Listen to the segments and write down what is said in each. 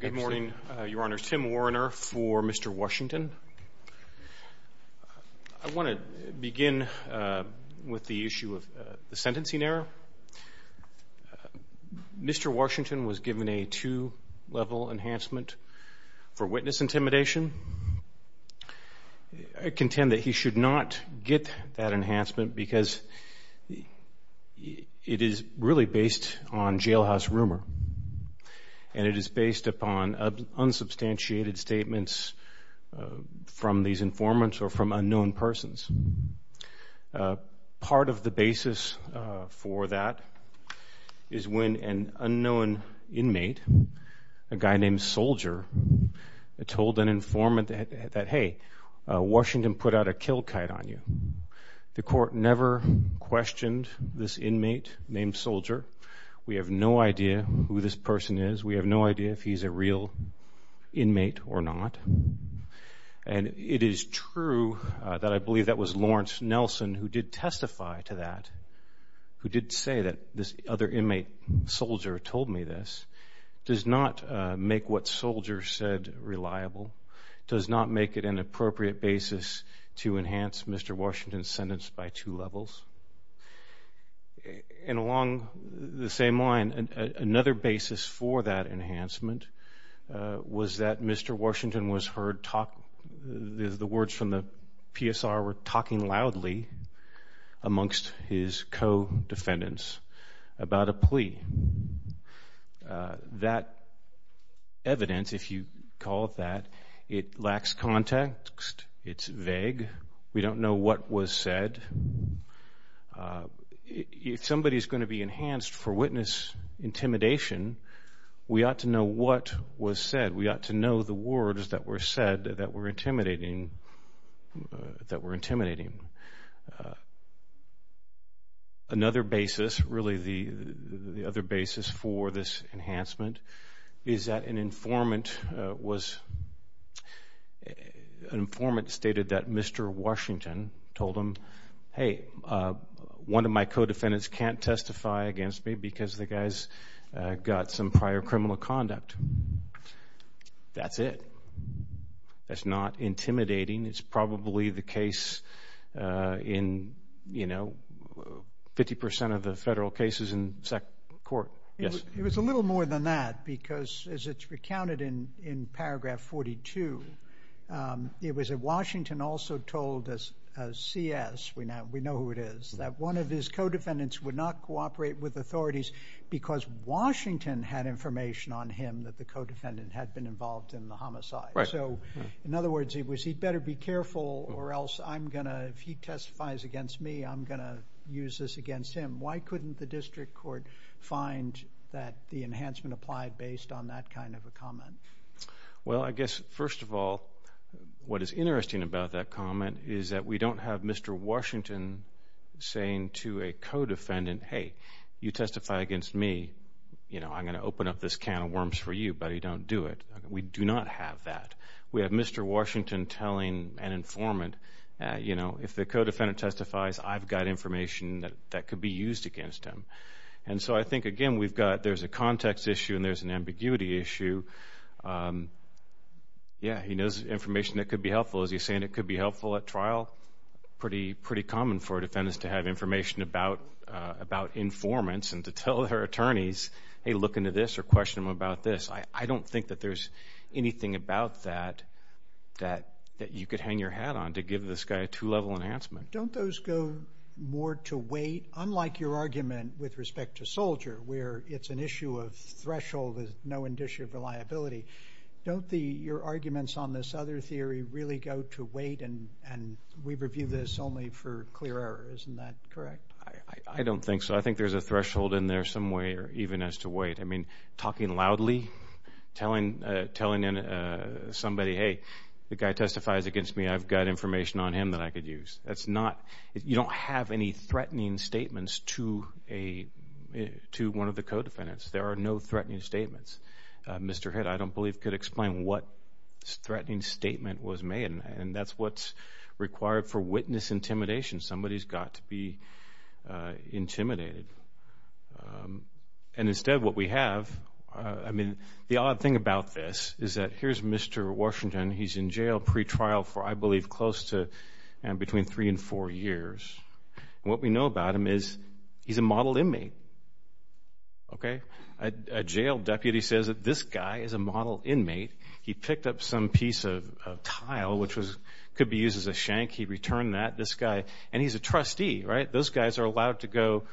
Good morning, Your Honor. Tim Warriner for Mr. Washington. I want to begin with the issue of the sentencing error. Mr. Washington was given a two-level enhancement for witness intimidation. I contend that he should not get that enhancement because it is really based on jailhouse rumor, and it is based on the fact that he is a witness. It is based upon unsubstantiated statements from these informants or from unknown persons. Part of the basis for that is when an unknown inmate, a guy named Soldier, told an informant that, hey, Washington put out a kill kite on you. The court never questioned this inmate named Soldier. We have no idea who this person is. We have no idea if he's a real inmate or not. And it is true that I believe that was Lawrence Nelson who did testify to that, who did say that this other inmate, Soldier, told me this. It does not make what Soldier said reliable. It does not make it an appropriate basis to enhance Mr. Washington's sentence by two levels. And along the same line, another basis for that enhancement was that Mr. Washington was heard talking, the words from the PSR were talking loudly amongst his co-defendants about a plea. That evidence, if you call it that, it lacks context. It's vague. We don't know what was said. If somebody is going to be enhanced for witness intimidation, we ought to know what was said. We ought to know the words that were said that were intimidating. Another basis, really the other basis for this enhancement, is that an informant stated that Mr. Washington told him, hey, one of my co-defendants can't testify against me because the guy's got some prior criminal conduct. That's it. That's not intimidating. It's probably the case in, you know, 50% of the federal cases in SEC court. Yes. It was a little more than that because as it's recounted in paragraph 42, it was that Washington also told a CS, we know who it is, that one of his co-defendants would not cooperate with authorities because Washington had information on him that the co-defendant had been involved in the homicide. In other words, he better be careful or else I'm going to, if he testifies against me, I'm going to use this against him. Why couldn't the district court find that the enhancement applied based on that kind of a comment? Well, I guess first of all, what is interesting about that comment is that we don't have Mr. Washington saying to a co-defendant, hey, you testify against me, you know, I'm going to open up this can of worms for you, but you don't do it. We do not have that. We have Mr. Washington telling an informant, you know, if the co-defendant testifies, I've got information that could be used against him. And so I think, again, we've got, there's a context issue and there's an ambiguity issue. Yeah, he knows information that could be helpful. Is he saying it could be helpful at trial? Pretty common for a defendant to have information about informants and to tell their attorneys, hey, look into this or question them about this. I don't think that there's anything about that that you could hang your hat on to give this guy a two-level enhancement. Don't those go more to weight, unlike your argument with respect to Soldier, where it's an issue of threshold, there's no indicia of reliability. Don't your arguments on this other theory really go to weight and we review this only for clear error, isn't that correct? I don't think so. I think there's a threshold in there some way or even as to weight. I mean, talking loudly, telling somebody, hey, the guy testifies against me, I've got information on him that I could use. That's not, you don't have any threatening statements to one of the co-defendants. There are no threatening statements. Mr. Hitt, I don't believe, could explain what threatening statement was made and that's what's required for witness intimidation. Somebody's got to be intimidated. And instead, what we have, I mean, the odd thing about this is that here's Mr. Washington, he's in jail pretrial for, I believe, close to, between three and four years. What we know about him is he's a model inmate. A jail deputy says that this guy is a model inmate. He picked up some piece of tile, which could be used as a shank. He returned that. This guy, and he's a trustee, right? Those guys are allowed to go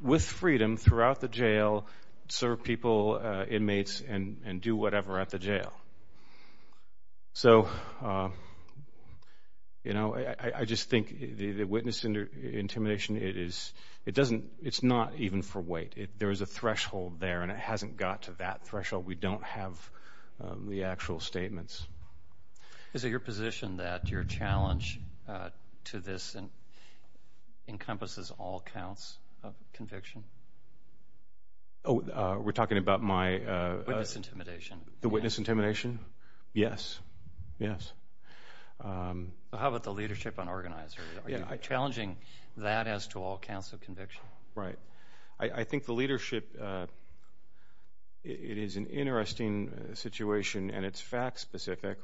with freedom throughout the jail, serve people, inmates, and do whatever at the jail. So, you know, I just think the witness intimidation, it is, it doesn't, it's not even for weight. There is a threshold there and it hasn't got to that threshold. We don't have the actual statements. Is it your position that your challenge to this encompasses all counts of conviction? Oh, we're talking about my... Witness intimidation. The witness intimidation? Yes. Yes. How about the leadership on organizers? Are you challenging that as to all counts of conviction? I think the leadership, it is an interesting situation and it's fact-specific.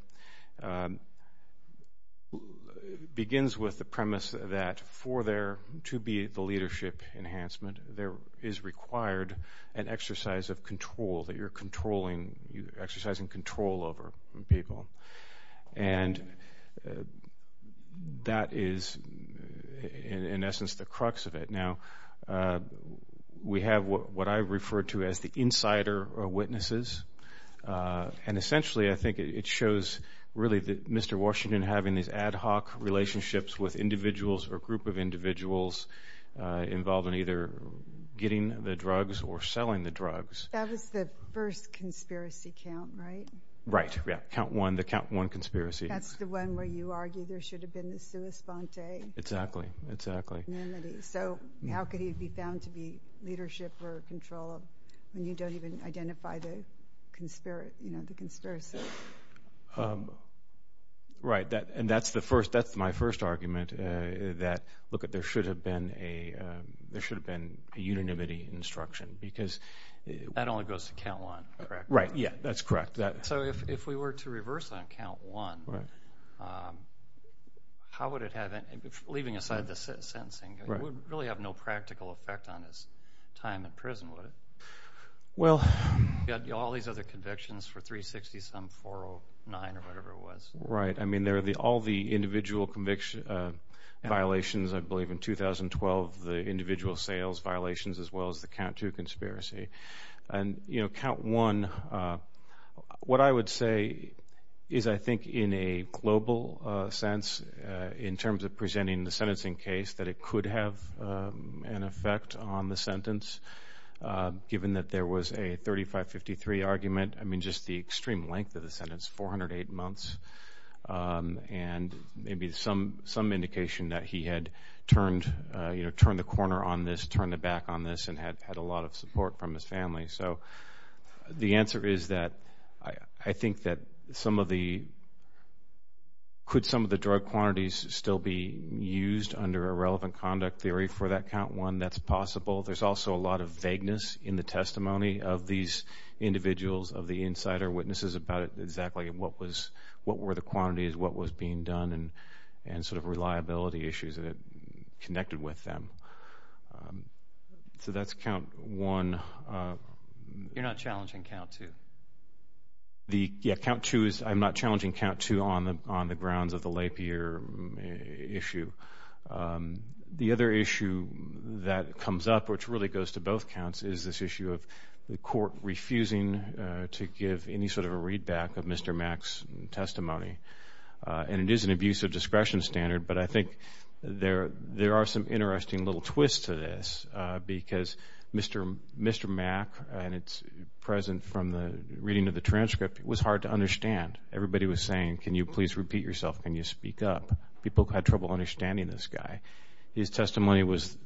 It begins with the premise that for there to be the leadership enhancement, there is required an exercise of control, that you're controlling, exercising control over people. And that is, in essence, the crux of it. Now, we have what I refer to as the insider witnesses. And essentially, I think it shows really that Mr. Washington having these ad hoc relationships with individuals or group of individuals involved in either getting the drugs or selling the drugs. That was the first conspiracy count, right? Right. Yeah. Count one, the count one conspiracy. That's the one where you argue there should have been the sua sponte... Exactly. Exactly. ...unanimity. So, how could he be found to be leadership or control when you don't even identify the conspiracy? Right. And that's the first, that's my first argument that, look, there should have been a unanimity instruction because... That only goes to count one, correct? Right. Yeah. That's correct. So, if we were to reverse on count one, how would it have...leaving aside the sentencing, it would really have no practical effect on his time in prison, would it? Well... He had all these other convictions for 360 some 409 or whatever it was. Right. I mean, there are all the individual violations, I believe, in 2012, the individual sales violations as well as the count two conspiracy. And, you know, count one, what I would say is I think in a global sense in terms of presenting the sentencing case that it could have an effect on the sentence given that there was a 3553 argument. I mean, just the extreme length of the sentence, 408 months. And maybe some indication that he had turned, you know, turned the corner on this, turned the back on this and had a lot of support from his family. So, the answer is that I think that some of the...could some of the drug quantities still be used under a relevant conduct theory for that count one? That's possible. There's also a lot of vagueness in the testimony of these individuals, of the insider witnesses about exactly what was...what were the quantities, what was being done and sort of reliability issues that connected with them. So, that's count one. You're not challenging count two? The...yeah, count two is...I'm not challenging count two on the grounds of the lapier issue. The other issue that comes up, which really goes to both counts, is this issue of the court refusing to give any sort of a readback of Mr. Mack's testimony. And it is an abuse of discretion standard, but I think there are some interesting little twists to this because Mr. Mack and it's present from the reading of the transcript, it was hard to understand. Everybody was saying, can you please repeat yourself? Can you speak up? People had trouble understanding this guy. His testimony was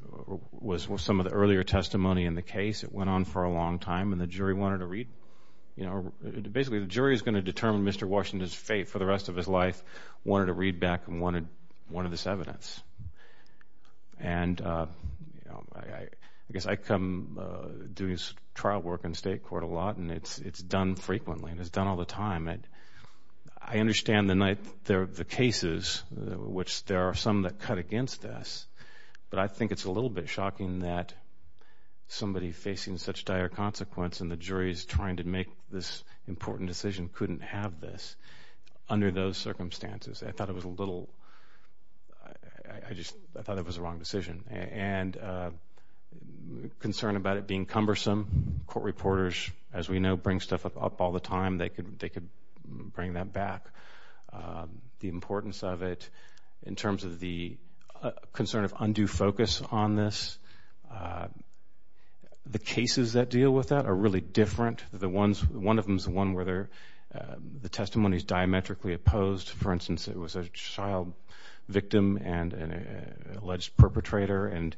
some of the earlier testimony in the case. It went on for a long time and the jury wanted a read. You know, basically, the jury is going to determine Mr. Washington's fate for the rest of his life, wanted a readback and wanted this evidence. And, you know, I guess I come doing trial work in state court a lot and it's done frequently and it's done all the time. I understand the cases, which there are some that cut against us, but I think it's a little bit shocking that somebody facing such dire consequence and the jury is trying to make this important decision couldn't have this under those circumstances. I thought it was a little...I just thought it was the wrong decision. And concern about it being cumbersome. Court reporters, as we know, bring stuff up all the time. They could bring that back. The importance of it in terms of the concern of undue focus on this. The cases that deal with that are really different. One of them is one where the testimony is diametrically opposed. For instance, it was a child victim and an alleged perpetrator and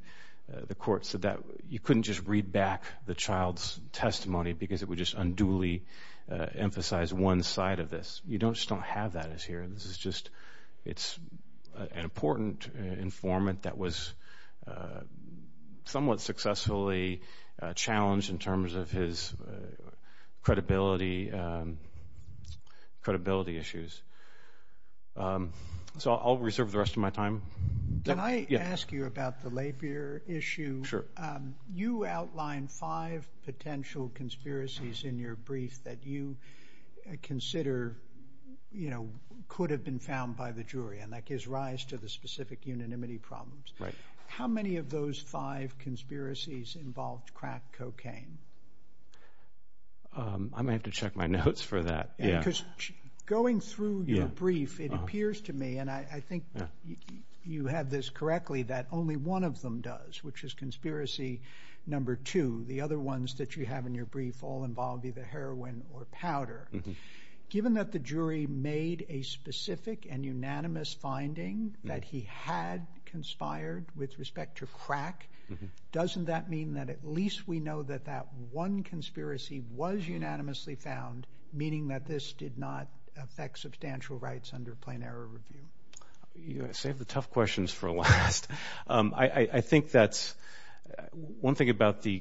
the court said that you couldn't just read back the child's testimony because it would just unduly emphasize one side of this. You just don't have that as here. This is just an important informant that was somewhat successfully challenged in terms of his credibility issues. So I'll reserve the rest of my time. Can I ask you about the Lapeer issue? Sure. You outlined five potential conspiracies in your brief that you consider could have been found by the jury and that gives rise to the specific unanimity problems. How many of those five conspiracies involved crack cocaine? I'm going to have to check my notes for that. Going through your brief, it appears to me, and I think you have this correctly, that only one of them does, which is conspiracy number two. The other ones that you have in your brief all involve either heroin or powder. Given that the jury made a specific and unanimous finding that he had conspired with respect to crack, doesn't that mean that at least we know that that one conspiracy was unanimously found, meaning that this did not affect substantial rights under plain error review? You saved the tough questions for last. I think that's one thing about the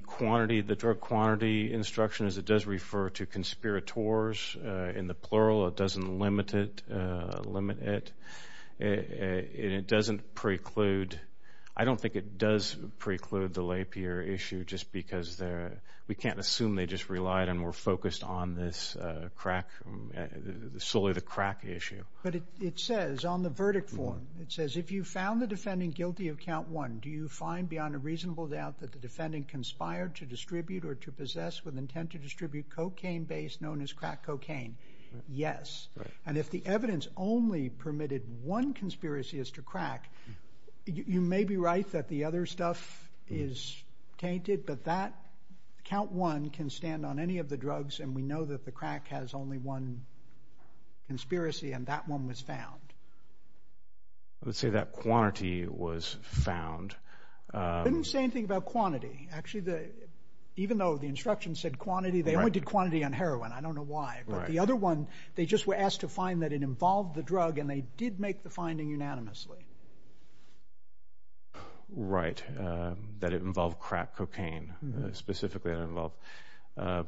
drug quantity instruction is it does refer to conspirators in the plural. It doesn't limit it, and it doesn't preclude. I don't think it does preclude the Lapeer issue just because we can't assume they just relied and were focused on this crack, solely the crack issue. But it says on the verdict form, it says, if you found the defendant guilty of count one, do you find beyond a reasonable doubt that the defendant conspired to distribute or to possess with intent to distribute cocaine based known as crack cocaine? Yes. And if the evidence only permitted one conspiracy as to crack, you may be right that the other stuff is tainted, but that count one can stand on any of the drugs, and we know that the crack has only one conspiracy, and that one was found. I would say that quantity was found. It didn't say anything about quantity. Actually, even though the instruction said quantity, they only did quantity on heroin. I don't know why. But the other one, they just were asked to find that it involved the drug, and they did make the finding unanimously. Right, that it involved crack cocaine, specifically that it involved. I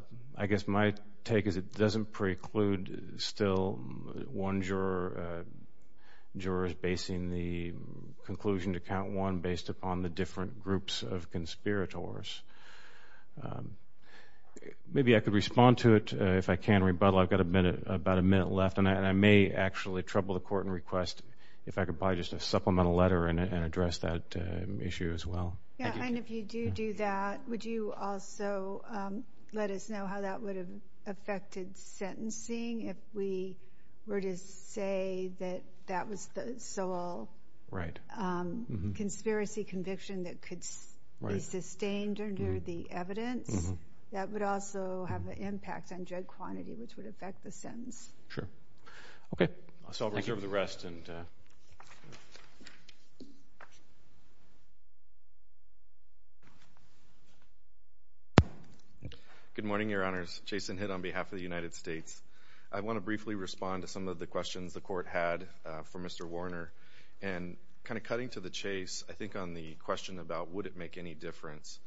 guess my take is it doesn't preclude still one juror's basing the conclusion to count one based upon the different groups of conspirators. Maybe I could respond to it if I can, rebuttal. I've got about a minute left, and I may actually trouble the court and request if I could probably just a supplemental letter and address that issue as well. And if you do do that, would you also let us know how that would have affected sentencing if we were to say that that was the sole conspiracy conviction that could be sustained under the evidence? That would also have an impact on drug quantity, which would affect the sentence. Sure. Okay. I'll reserve the rest. Good morning, Your Honors. Jason Hitt on behalf of the United States. I want to briefly respond to some of the questions the court had for Mr. Warner. And kind of cutting to the chase, I think on the question about would it make any difference,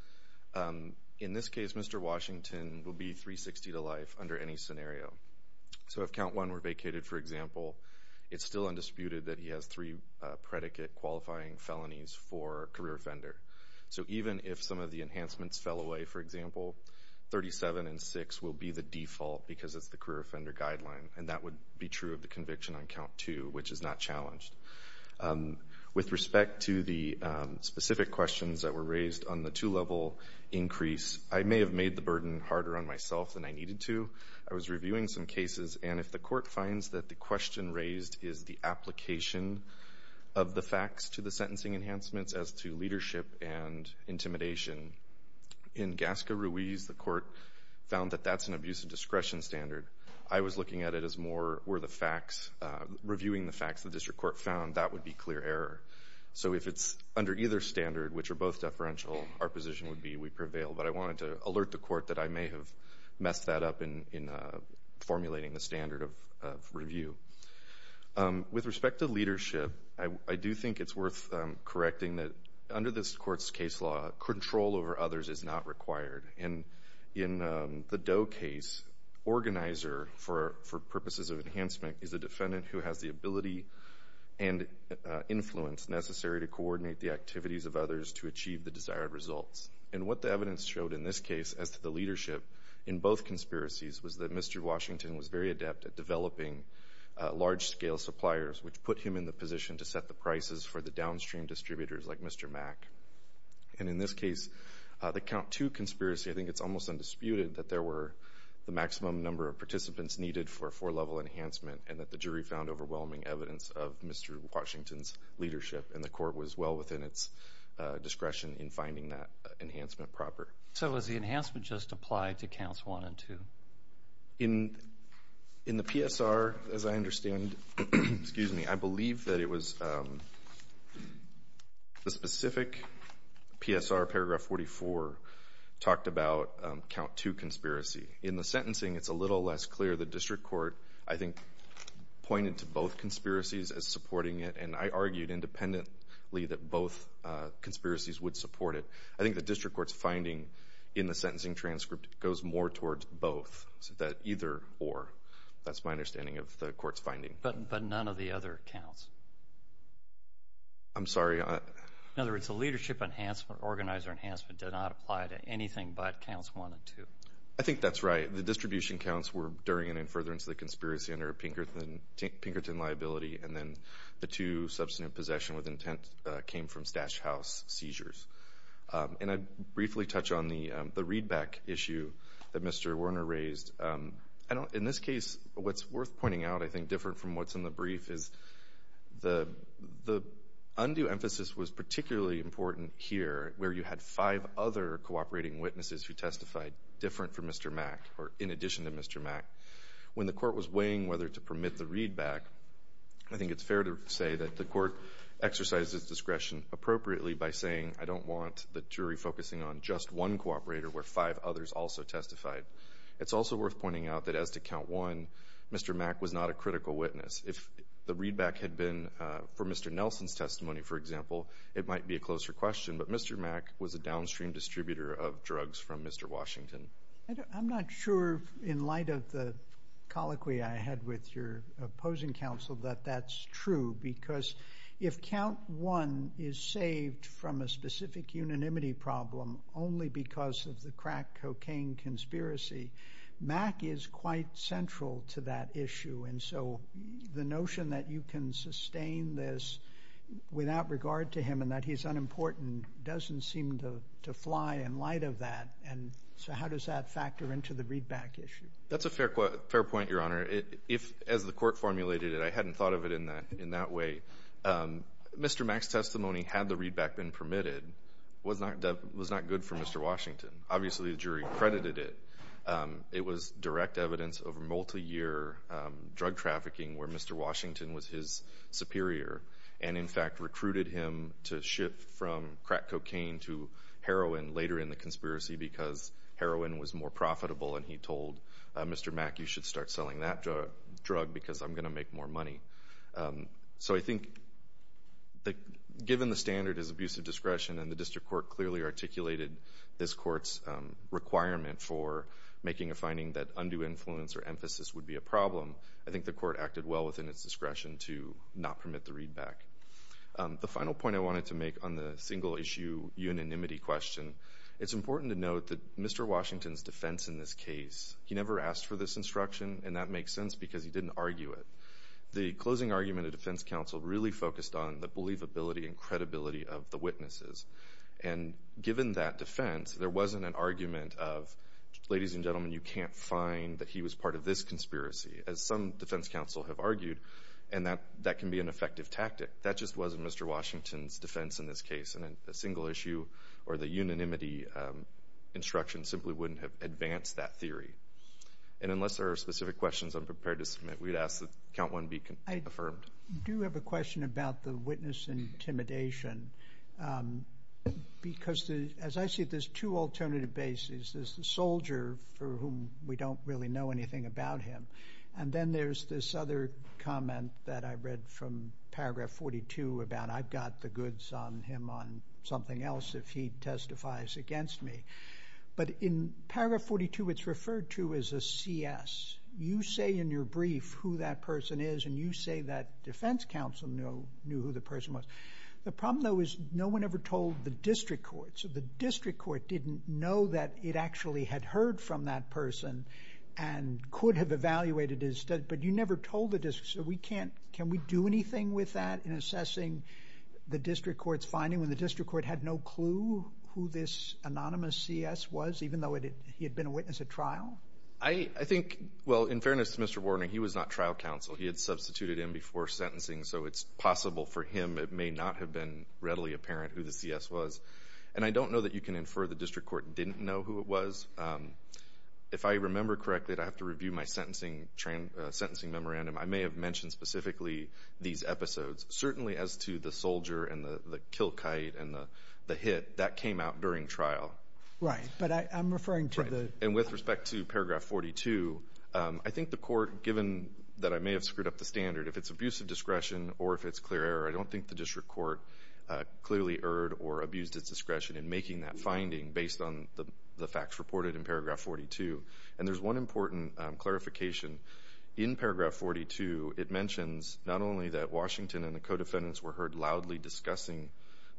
in this case Mr. Washington will be 360 to life under any scenario. So if count one were vacated, for example, it's still undisputed that he has three predicate qualifying felonies for career offender. So even if some of the enhancements fell away, for example, 37 and six will be the default because it's the career offender guideline, and that would be true of the conviction on count two, which is not challenged. With respect to the specific questions that were raised on the two-level increase, I may have made the burden harder on myself than I needed to. I was reviewing some cases, and if the court finds that the question raised is the application of the facts to the sentencing enhancements as to leadership and intimidation, in Gasca Ruiz, the court found that that's an abuse of discretion standard. I was looking at it as more were the facts, reviewing the facts the district court found, that would be clear error. So if it's under either standard, which are both deferential, our position would be we prevail. But I wanted to alert the court that I may have messed that up in formulating the standard of review. With respect to leadership, I do think it's worth correcting that under this court's case law, control over others is not required. In the Doe case, organizer for purposes of enhancement is a defendant who has the ability and influence necessary to coordinate the activities of others to achieve the desired results. And what the evidence showed in this case as to the leadership in both conspiracies was that Mr. Washington was very adept at developing large-scale suppliers, which put him in the position to set the prices for the downstream distributors like Mr. Mack. And in this case, the Count II conspiracy, I think it's almost undisputed that there were the maximum number of participants needed for a four-level enhancement and that the jury found overwhelming evidence of Mr. Washington's leadership, and the court was well within its discretion in finding that enhancement proper. So was the enhancement just applied to Counts I and II? In the PSR, as I understand, I believe that it was the specific PSR, paragraph 44, talked about Count II conspiracy. In the sentencing, it's a little less clear. The district court, I think, pointed to both conspiracies as supporting it, and I argued independently that both conspiracies would support it. I think the district court's finding in the sentencing transcript goes more towards both, so that either or, that's my understanding of the court's finding. But none of the other counts? I'm sorry? In other words, the leadership enhancement, organizer enhancement, did not apply to anything but Counts I and II. I think that's right. The distribution counts were during and in furtherance of the conspiracy under Pinkerton liability, and then the two substantive possession with intent came from Stash House seizures. And I'd briefly touch on the readback issue that Mr. Werner raised. In this case, what's worth pointing out, I think, different from what's in the brief, is the undue emphasis was particularly important here, where you had five other cooperating witnesses who testified different from Mr. Mack, or in addition to Mr. Mack. When the court was weighing whether to permit the readback, I think it's fair to say that the court exercised its discretion appropriately by saying, I don't want the jury focusing on just one cooperator where five others also testified. It's also worth pointing out that as to Count I, Mr. Mack was not a critical witness. If the readback had been for Mr. Nelson's testimony, for example, it might be a closer question, but Mr. Mack was a downstream distributor of drugs from Mr. Washington. I'm not sure in light of the colloquy I had with your opposing counsel that that's true, because if Count I is saved from a specific unanimity problem only because of the crack cocaine conspiracy, Mack is quite central to that issue, and so the notion that you can sustain this without regard to him and that he's unimportant doesn't seem to fly in light of that, and so how does that factor into the readback issue? That's a fair point, Your Honor. As the court formulated it, I hadn't thought of it in that way. Mr. Mack's testimony, had the readback been permitted, was not good for Mr. Washington. Obviously, the jury credited it. It was direct evidence of multiyear drug trafficking where Mr. Washington was his superior and, in fact, recruited him to shift from crack cocaine to heroin later in the conspiracy because heroin was more profitable, and he told Mr. Mack, you should start selling that drug because I'm going to make more money. So I think given the standard is abusive discretion and the district court clearly articulated this court's requirement for making a finding that undue influence or emphasis would be a problem, I think the court acted well within its discretion to not permit the readback. The final point I wanted to make on the single-issue unanimity question, it's important to note that Mr. Washington's defense in this case, he never asked for this instruction, and that makes sense because he didn't argue it. The closing argument of defense counsel really focused on the believability and credibility of the witnesses, and given that defense, there wasn't an argument of, ladies and gentlemen, you can't find that he was part of this conspiracy, as some defense counsel have argued, and that can be an effective tactic. That just wasn't Mr. Washington's defense in this case, and a single-issue or the unanimity instruction simply wouldn't have advanced that theory. And unless there are specific questions I'm prepared to submit, we'd ask that count 1 be confirmed. I do have a question about the witness intimidation because, as I see it, there's two alternative bases. There's the soldier for whom we don't really know anything about him, and then there's this other comment that I read from Paragraph 42 about, I've got the goods on him on something else if he testifies against me. But in Paragraph 42, it's referred to as a CS. You say in your brief who that person is, and you say that defense counsel knew who the person was. The problem, though, is no one ever told the district courts. The district court didn't know that it actually had heard from that person and could have evaluated his study, but you never told the district. So can we do anything with that in assessing the district court's finding when the district court had no clue who this anonymous CS was, even though he had been a witness at trial? I think, well, in fairness to Mr. Warner, he was not trial counsel. He had substituted him before sentencing, so it's possible for him. It may not have been readily apparent who the CS was. And I don't know that you can infer the district court didn't know who it was. If I remember correctly, I'd have to review my sentencing memorandum. I may have mentioned specifically these episodes, certainly as to the soldier and the kill kite and the hit that came out during trial. Right, but I'm referring to the— And with respect to Paragraph 42, I think the court, given that I may have screwed up the standard, if it's abusive discretion or if it's clear error, I don't think the district court clearly erred or abused its discretion in making that finding based on the facts reported in Paragraph 42. And there's one important clarification. In Paragraph 42, it mentions not only that Washington and the co-defendants were heard loudly discussing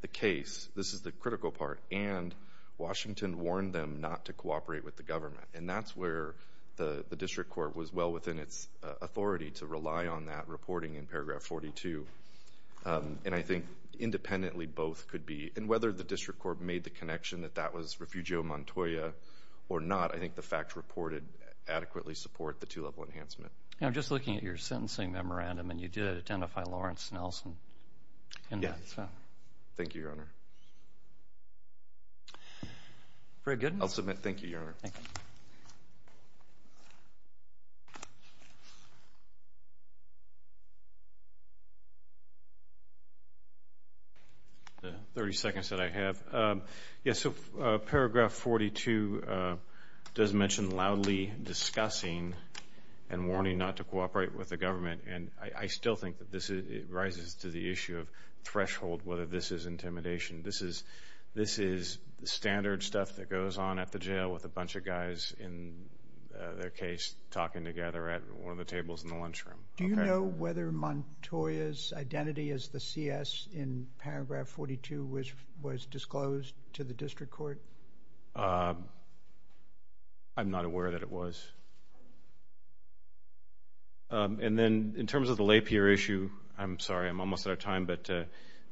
the case—this is the critical part— and Washington warned them not to cooperate with the government. And that's where the district court was well within its authority to rely on that reporting in Paragraph 42. And I think independently both could be— and whether the district court made the connection that that was Refugio Montoya or not, I think the facts reported adequately support the two-level enhancement. I'm just looking at your sentencing memorandum, and you did identify Lawrence Nelson in that. Yes. Thank you, Your Honor. I'll submit. Thank you, Your Honor. Thank you. Thank you. The 30 seconds that I have. Yes, so Paragraph 42 does mention loudly discussing and warning not to cooperate with the government. And I still think that this rises to the issue of threshold, whether this is intimidation. This is standard stuff that goes on at the jail with a bunch of guys in their case talking together at one of the tables in the lunchroom. Do you know whether Montoya's identity as the CS in Paragraph 42 was disclosed to the district court? I'm not aware that it was. And then in terms of the Lapierre issue, I'm sorry, I'm almost out of time, but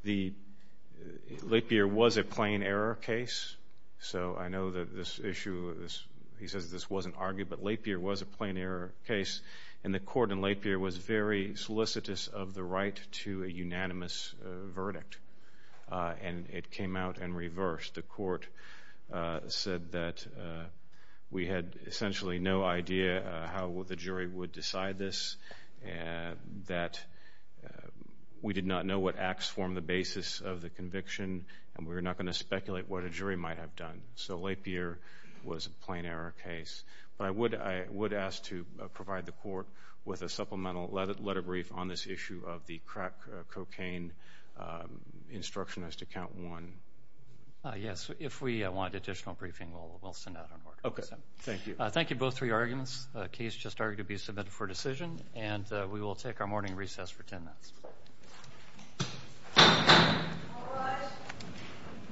the—Lapierre was a plain error case. So I know that this issue is—he says this wasn't argued, but Lapierre was a plain error case. And the court in Lapierre was very solicitous of the right to a unanimous verdict. And it came out in reverse. The court said that we had essentially no idea how the jury would decide this, that we did not know what acts formed the basis of the conviction, and we were not going to speculate what a jury might have done. So Lapierre was a plain error case. But I would ask to provide the court with a supplemental letter brief on this issue of the crack cocaine instruction as to count one. Yes. If we want additional briefing, we'll send out an order. Okay. Thank you. Thank you, both, for your arguments. The case just argued to be submitted for decision, and we will take our morning recess for 10 minutes. All rise.